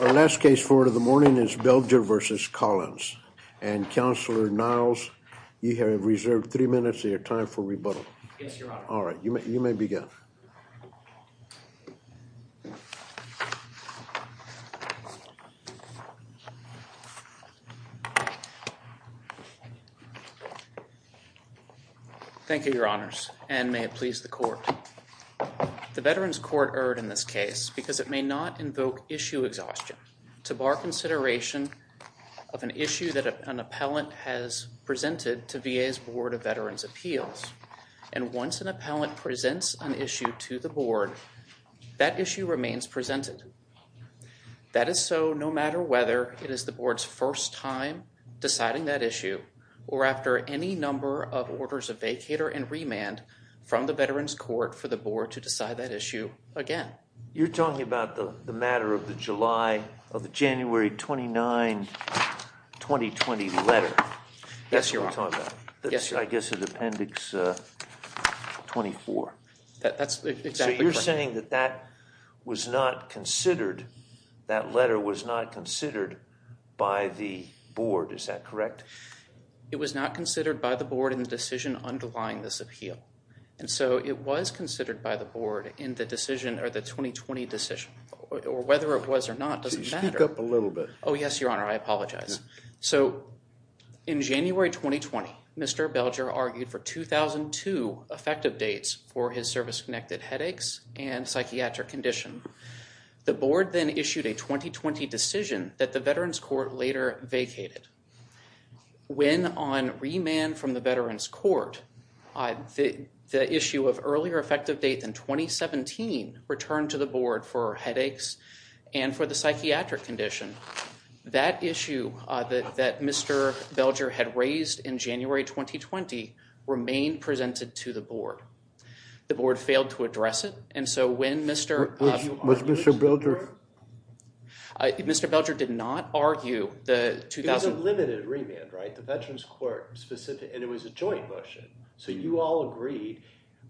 Our last case for the morning is Belger v. Collins and, Counselor Niles, you have reserved three minutes of your time for rebuttal. Yes, Your Honor. All right, you may begin. Thank you, Your Honors, and may it please the Court. The Veterans Court erred in this case because it may not invoke issue exhaustion to bar consideration of an issue that an appellant has presented to VA's Board of Veterans' Appeals, and once an appellant presents an issue to the Board, that issue remains presented. That is so no matter whether it is the Board's first time deciding that issue or after any number of orders of vacater and remand from the Veterans Court for the Board to decide that issue again. You're talking about the matter of the July, of the January 29, 2020 letter. Yes, Your Honor. That's what we're talking about. Yes, Your Honor. I guess it's Appendix 24. That's exactly correct. So you're saying that that was not considered, that letter was not considered by the Board, is that correct? It was not considered by the Board in the decision underlying this appeal. And so it was considered by the Board in the decision, or the 2020 decision, or whether it was or not doesn't matter. Speak up a little bit. Oh, yes, Your Honor. I apologize. So in January 2020, Mr. Belger argued for 2002 effective dates for his service-connected headaches and psychiatric condition. The Board then issued a 2020 decision that the Veterans Court later vacated. When on remand from the Veterans Court, the issue of earlier effective date than 2017 returned to the Board for headaches and for the psychiatric condition, that issue that Mr. Belger had raised in January 2020 remained presented to the Board. The Board failed to address it. And so when Mr. Was Mr. Belger? I, Mr. Belger did not argue the 2000. It was a limited remand, right? The Veterans Court specific, and it was a joint motion. So you all agreed,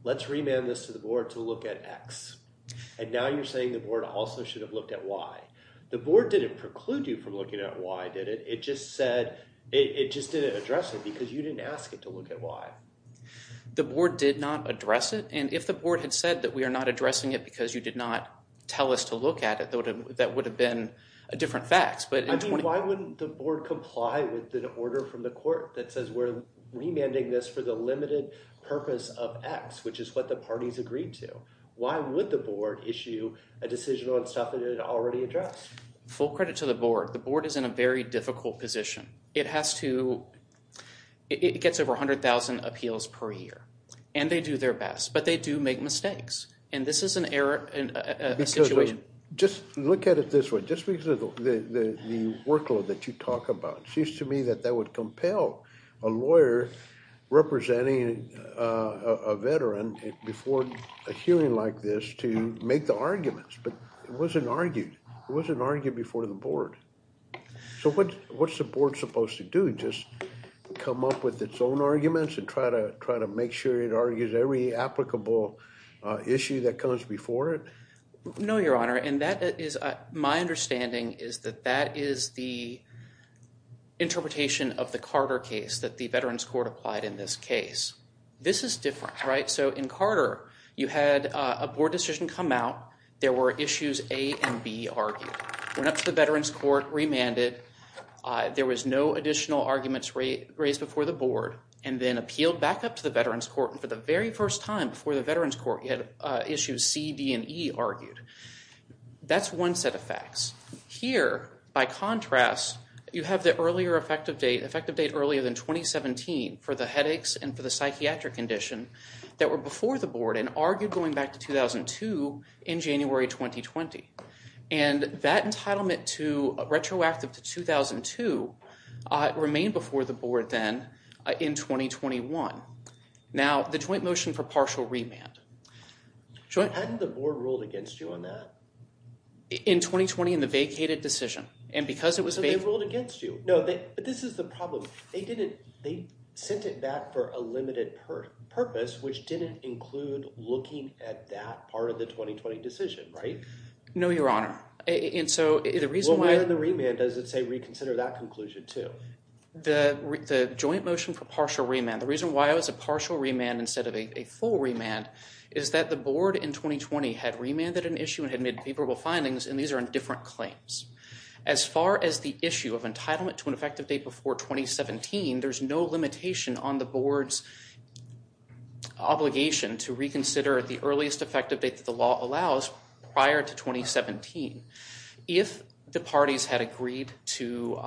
let's remand this to the Board to look at X. And now you're saying the Board also should have looked at Y. The Board didn't preclude you from looking at Y, did it? It just said, it just didn't address it because you didn't ask it to look at Y. The Board did not address it. And if the Board had said that we are not addressing it because you did not tell us to look at it, that would have been a different facts. Why wouldn't the Board comply with the order from the Court that says we're remanding this for the limited purpose of X, which is what the parties agreed to? Why would the Board issue a decision on stuff that it already addressed? Full credit to the Board. The Board is in a very difficult position. It has to, it gets over 100,000 appeals per year. And they do their best, but they do make mistakes. And this is an error, a situation. Just look at it this way. Just because of the workload that you talk about, it seems to me that that would compel a lawyer representing a veteran before a hearing like this to make the arguments. But it wasn't argued. It wasn't argued before the Board. So what's the Board supposed to do? Just come up with its own arguments and try to make sure it argues every applicable issue that comes before it? No, Your Honor. And that is, my understanding is that that is the interpretation of the Carter case that the Veterans Court applied in this case. This is different, right? So in Carter, you had a Board decision come out. There were issues A and B argued. Went up to the Veterans Court, remanded. There was no additional arguments raised before the Board. And then appealed back up to the Veterans Court. And for the very first time before the Veterans Court, you had issues C, D, and E argued. That's one set of facts. Here, by contrast, you have the earlier effective date, effective date earlier than 2017 for the headaches and for the psychiatric condition that were before the Board and argued going back to 2002 in January 2020. And that entitlement to retroactive to 2002 remained before the Board then in 2021. Now, the joint motion for partial remand. Hadn't the Board ruled against you on that? In 2020 in the vacated decision. And because it was vacated. So they ruled against you. No, but this is the problem. They didn't, they sent it back for a limited purpose, which didn't include looking at that part of the 2020 decision, right? No, Your Honor. And so the reason why. Well, where in the remand does it say reconsider that conclusion too? The joint motion for partial remand, the reason why it was a partial remand instead of a full remand is that the Board in 2020 had remanded an issue and had made favorable findings. And these are in different claims. As far as the issue of entitlement to an effective date before 2017, there's no limitation on the Board's obligation to reconsider at the earliest effective date that the law allows prior to 2017. If the parties had agreed to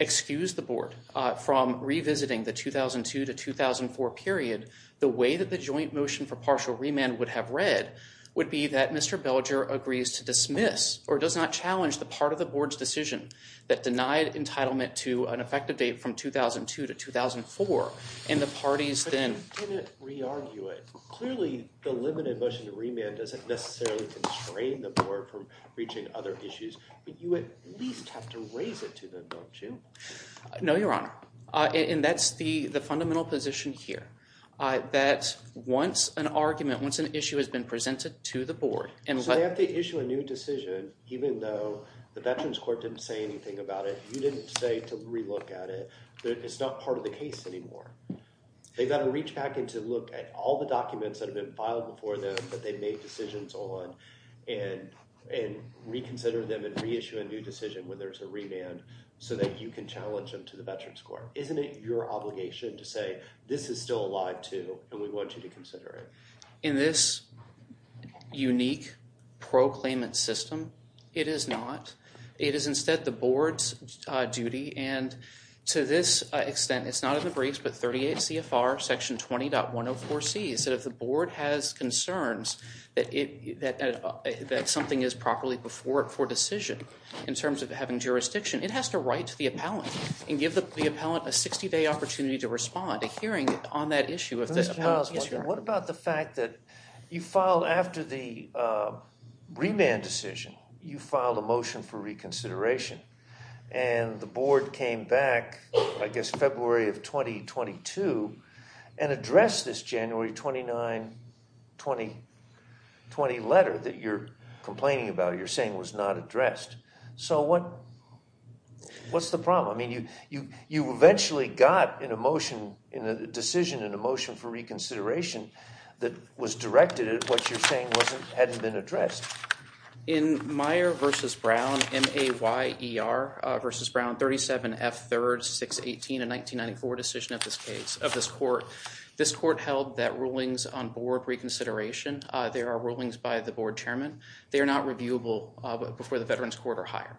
excuse the Board from revisiting the 2002 to 2004 period, the way that the joint motion for partial remand would have read would be that Mr. Belger agrees to dismiss or does not challenge the part of the Board's decision that denied entitlement to an effective date from 2002 to 2004. And the parties then. But you didn't re-argue it. Clearly, the limited motion to remand doesn't necessarily constrain the Board from reaching other issues. But you at least have to raise it to them, don't you? No, Your Honor. And that's the fundamental position here. That once an argument, once an issue has been presented to the Board. And so they have to issue a new decision even though the Veterans Court didn't say anything about it. You didn't say to re-look at it. It's not part of the case anymore. They've got to reach back and to look at all the documents that have been filed before them that they've made decisions on and reconsider them and reissue a new decision when there's a remand so that you can challenge them to the Veterans Court. Isn't it your obligation to say this is still alive too and we want you to consider it? In this unique proclaimant system, it is not. It is instead the Board's duty. And to this extent, it's not in the briefs, but 38 CFR section 20.104C said if the Board has concerns that something is properly before it for decision in terms of having jurisdiction, it has to write to the appellant and give the appellant a 60-day opportunity to respond to hearing on that issue. What about the fact that you filed after the remand decision, you filed a motion for reconsideration and the Board came back I guess February of 2022 and addressed this January 29, 2020 letter that you're complaining about, you're saying was not addressed. So what's the problem? I mean, you eventually got a decision and a motion for reconsideration that was directed at what you're saying hadn't been addressed. In Meyer v. Brown, M-A-Y-E-R v. Brown, 37 F. 3rd, 618, a 1994 decision of this case, of this court, this court held that rulings on Board reconsideration, there are rulings by the Board Chairman. They are not reviewable before the Veterans Court or higher.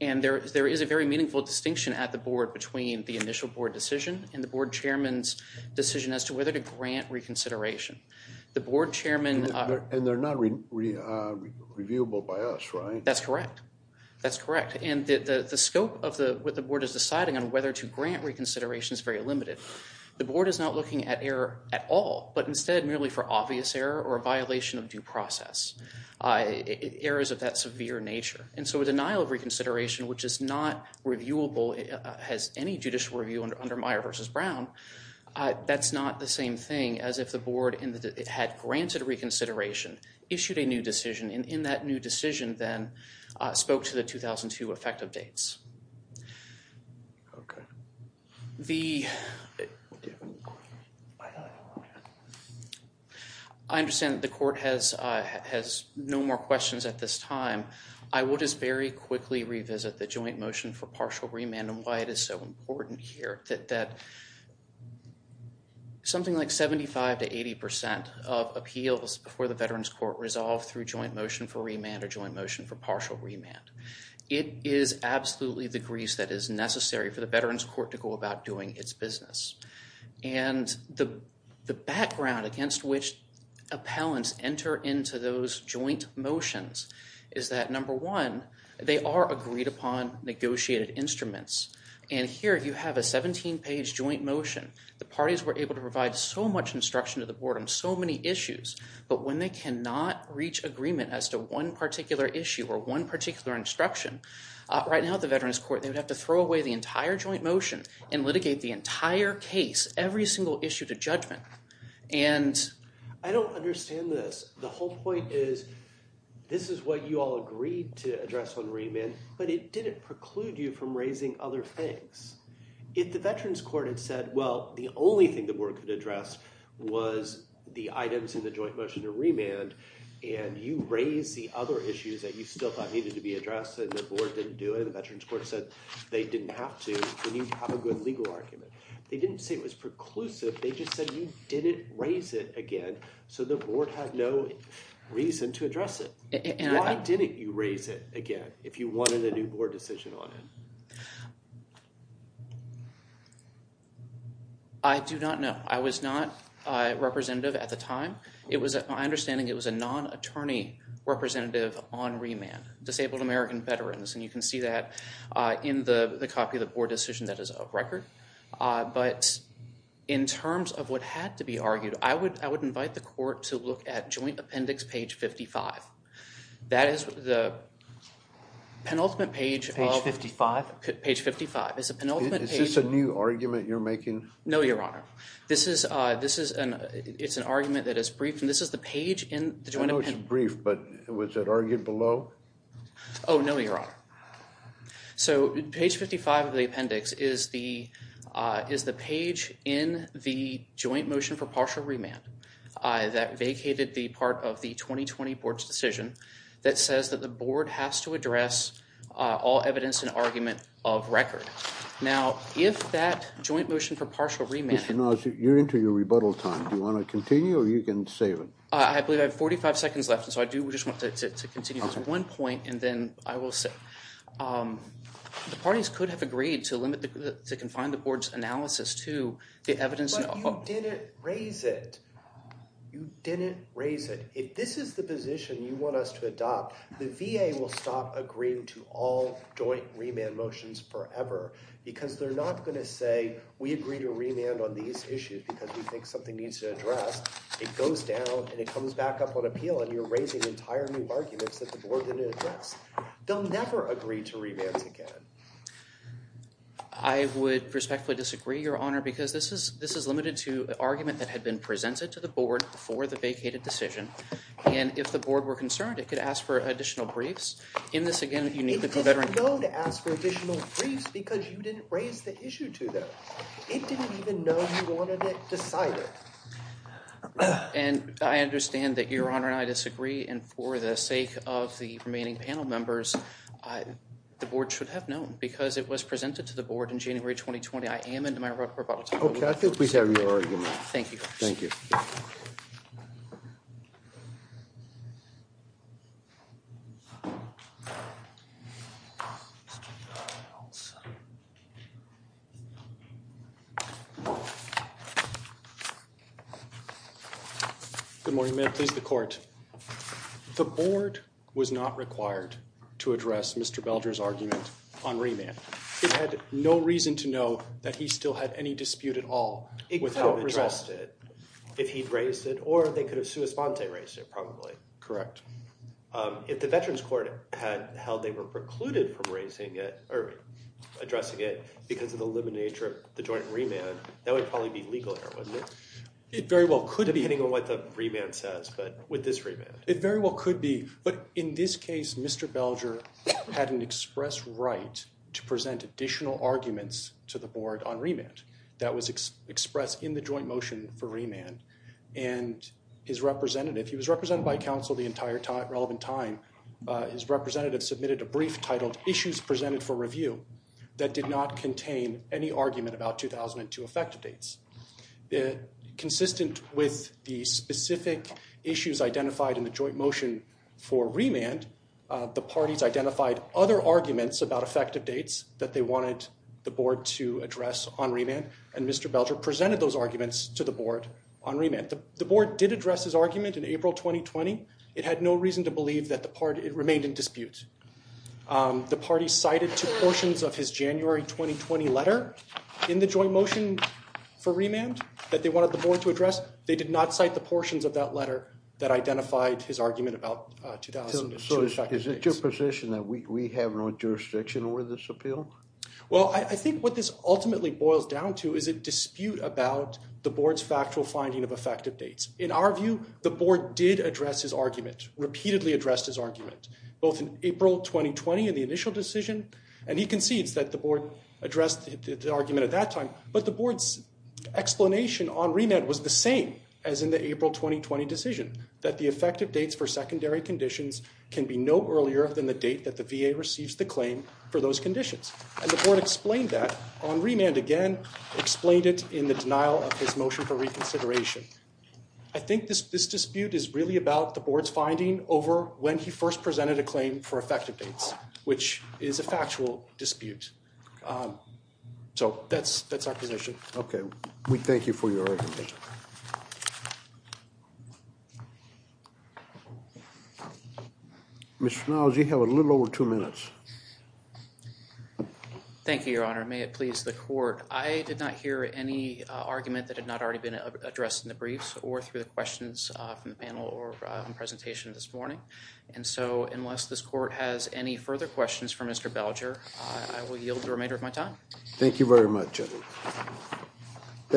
And there is a very meaningful distinction at the Board between the initial Board decision and the Board Chairman's decision as to whether to grant reconsideration. The Board Chairman... And they're not reviewable by us, right? That's correct. That's correct. And the scope of what the Board is deciding on whether to grant reconsideration is very limited. The Board is not looking at error at all, but instead merely for obvious error or a violation of due process, errors of that severe nature. And so a denial of reconsideration, which is not reviewable as any judicial review under Meyer v. Brown, that's not the same thing as if the Board had granted reconsideration, issued a new decision, and in that new decision then spoke to the 2002 effective dates. Okay. The... I understand the court has no more questions at this time. I will just very quickly revisit the joint motion for partial remand and why it is so important here that something like 75% to 80% of appeals before the Veterans Court resolve through joint motion for remand or joint motion for partial remand. It is absolutely the grease that is necessary for the Veterans Court to go about doing its business. And the background against which appellants enter into those joint motions is that, number one, they are agreed upon negotiated instruments. And here you have a 17-page joint motion. The parties were able to provide so much instruction to the Board on so many issues, but when they cannot reach agreement as to one particular issue or one particular instruction, right now the Veterans Court, they would have to throw away the entire joint motion and litigate the entire case, every single issue to judgment. And... I don't understand this. The whole point is this is what you all agreed to address on remand, but it didn't preclude you from raising other things. If the Veterans Court had said, well, the only thing the Board could address was the items in the joint motion to remand and you raise the other issues that you still thought needed to be addressed and the Board didn't do it and the Veterans Court said they didn't have to, then you'd have a good legal argument. They didn't say it was preclusive. They just said you didn't raise it again so the Board had no reason to address it. Why didn't you raise it again if you wanted a new Board decision on it? I do not know. I was not representative at the time. It was, my understanding, it was a non-attorney representative on remand, Disabled American Veterans, and you can see that in the copy of the Board decision that is up record. But in terms of what had to be argued, I would invite the Court to look at joint appendix page 55. That is the penultimate page. Page 55? Page 55. Is this a new argument you're making? No, Your Honor. It's an argument that is brief and this is the page in the joint appendix. I know it's brief, but was it argued below? Oh, no, Your Honor. So, page 55 of the appendix is the page in the joint motion for partial remand that vacated the part of the 2020 Board's decision that says that the Board has to address all evidence and argument of record. Now, if that joint motion for partial remand... Mr. Nash, you're into your rebuttal time. Do you want to continue or you can save it? I believe I have 45 seconds left, so I do just want to continue to one point and then I will say. The parties could have agreed to limit, to confine the Board's analysis to the evidence... But you didn't raise it. You didn't raise it. If this is the position you want us to adopt, the VA will stop agreeing to all joint remand motions forever because they're not going to say, we agree to remand on these issues because we think something needs to address. It goes down and it comes back up on appeal and you're raising entire new arguments that the Board didn't address. They'll never agree to remands again. I would respectfully disagree, Your Honor, because this is limited to an argument that had been presented to the Board before the vacated decision, and if the Board were concerned, it could ask for additional briefs. In this, again, you need to... It didn't know to ask for additional briefs because you didn't raise the issue to them. It didn't even know you wanted it decided. And I understand that, Your Honor, I disagree, and for the sake of the remaining panel members, the Board should have known because it was presented to the Board in January 2020. I am into my rebuttal time. Okay, I think we have your argument. Thank you. Thank you. Good morning, ma'am. Please, the Court. The Board was not required to address Mr. Belger's argument on remand. It had no reason to know that he still had any dispute at all. It could have addressed it if he'd raised it, or they could have sua sponte raised it, probably. If the Veterans Court had held they were precluded from raising it or addressing it because of the limited nature of the joint remand, that would probably be legal here, wouldn't it? It very well could be. Depending on what the remand says, but with this remand. It very well could be, but in this case, Mr. Belger had an express right to present additional arguments to the Board on remand. That was expressed in the joint motion for remand. And his representative, he was represented by counsel the entire time, relevant time. His representative submitted a brief titled issues presented for review that did not contain any argument about 2002 effective dates. Consistent with the specific issues identified in the joint motion for remand, the parties identified other arguments about effective dates that they wanted the Board to address on remand. And Mr. Belger presented those arguments to the Board on remand. The Board did address his argument in April 2020. It had no reason to believe that the party remained in dispute. The party cited two portions of his January 2020 letter in the joint motion for remand that they wanted the Board to address. They did not cite the portions of that letter that identified his argument about 2002 effective dates. Is it your position that we have no jurisdiction over this appeal? Well, I think what this ultimately boils down to is a dispute about the Board's factual finding of effective dates. In our view, the Board did address his argument, repeatedly addressed his argument, both in April 2020 in the initial decision. And he concedes that the Board addressed the argument at that time. But the Board's explanation on remand was the same as in the April 2020 decision, that the effective dates for secondary conditions can be no earlier than the date that the VA receives the claim for those conditions. And the Board explained that on remand again, explained it in the denial of his motion for reconsideration. I think this dispute is really about the Board's finding over when he first presented a claim for effective dates, which is a factual dispute. So that's our position. Okay. We thank you for your argument. Mr. Farnell, you have a little over two minutes. Thank you, Your Honor. May it please the Court. I did not hear any argument that had not already been addressed in the briefs or through the questions from the panel or presentation this morning. And so unless this Court has any further questions for Mr. Belger, I will yield the remainder of my time. Thank you very much. Thank you.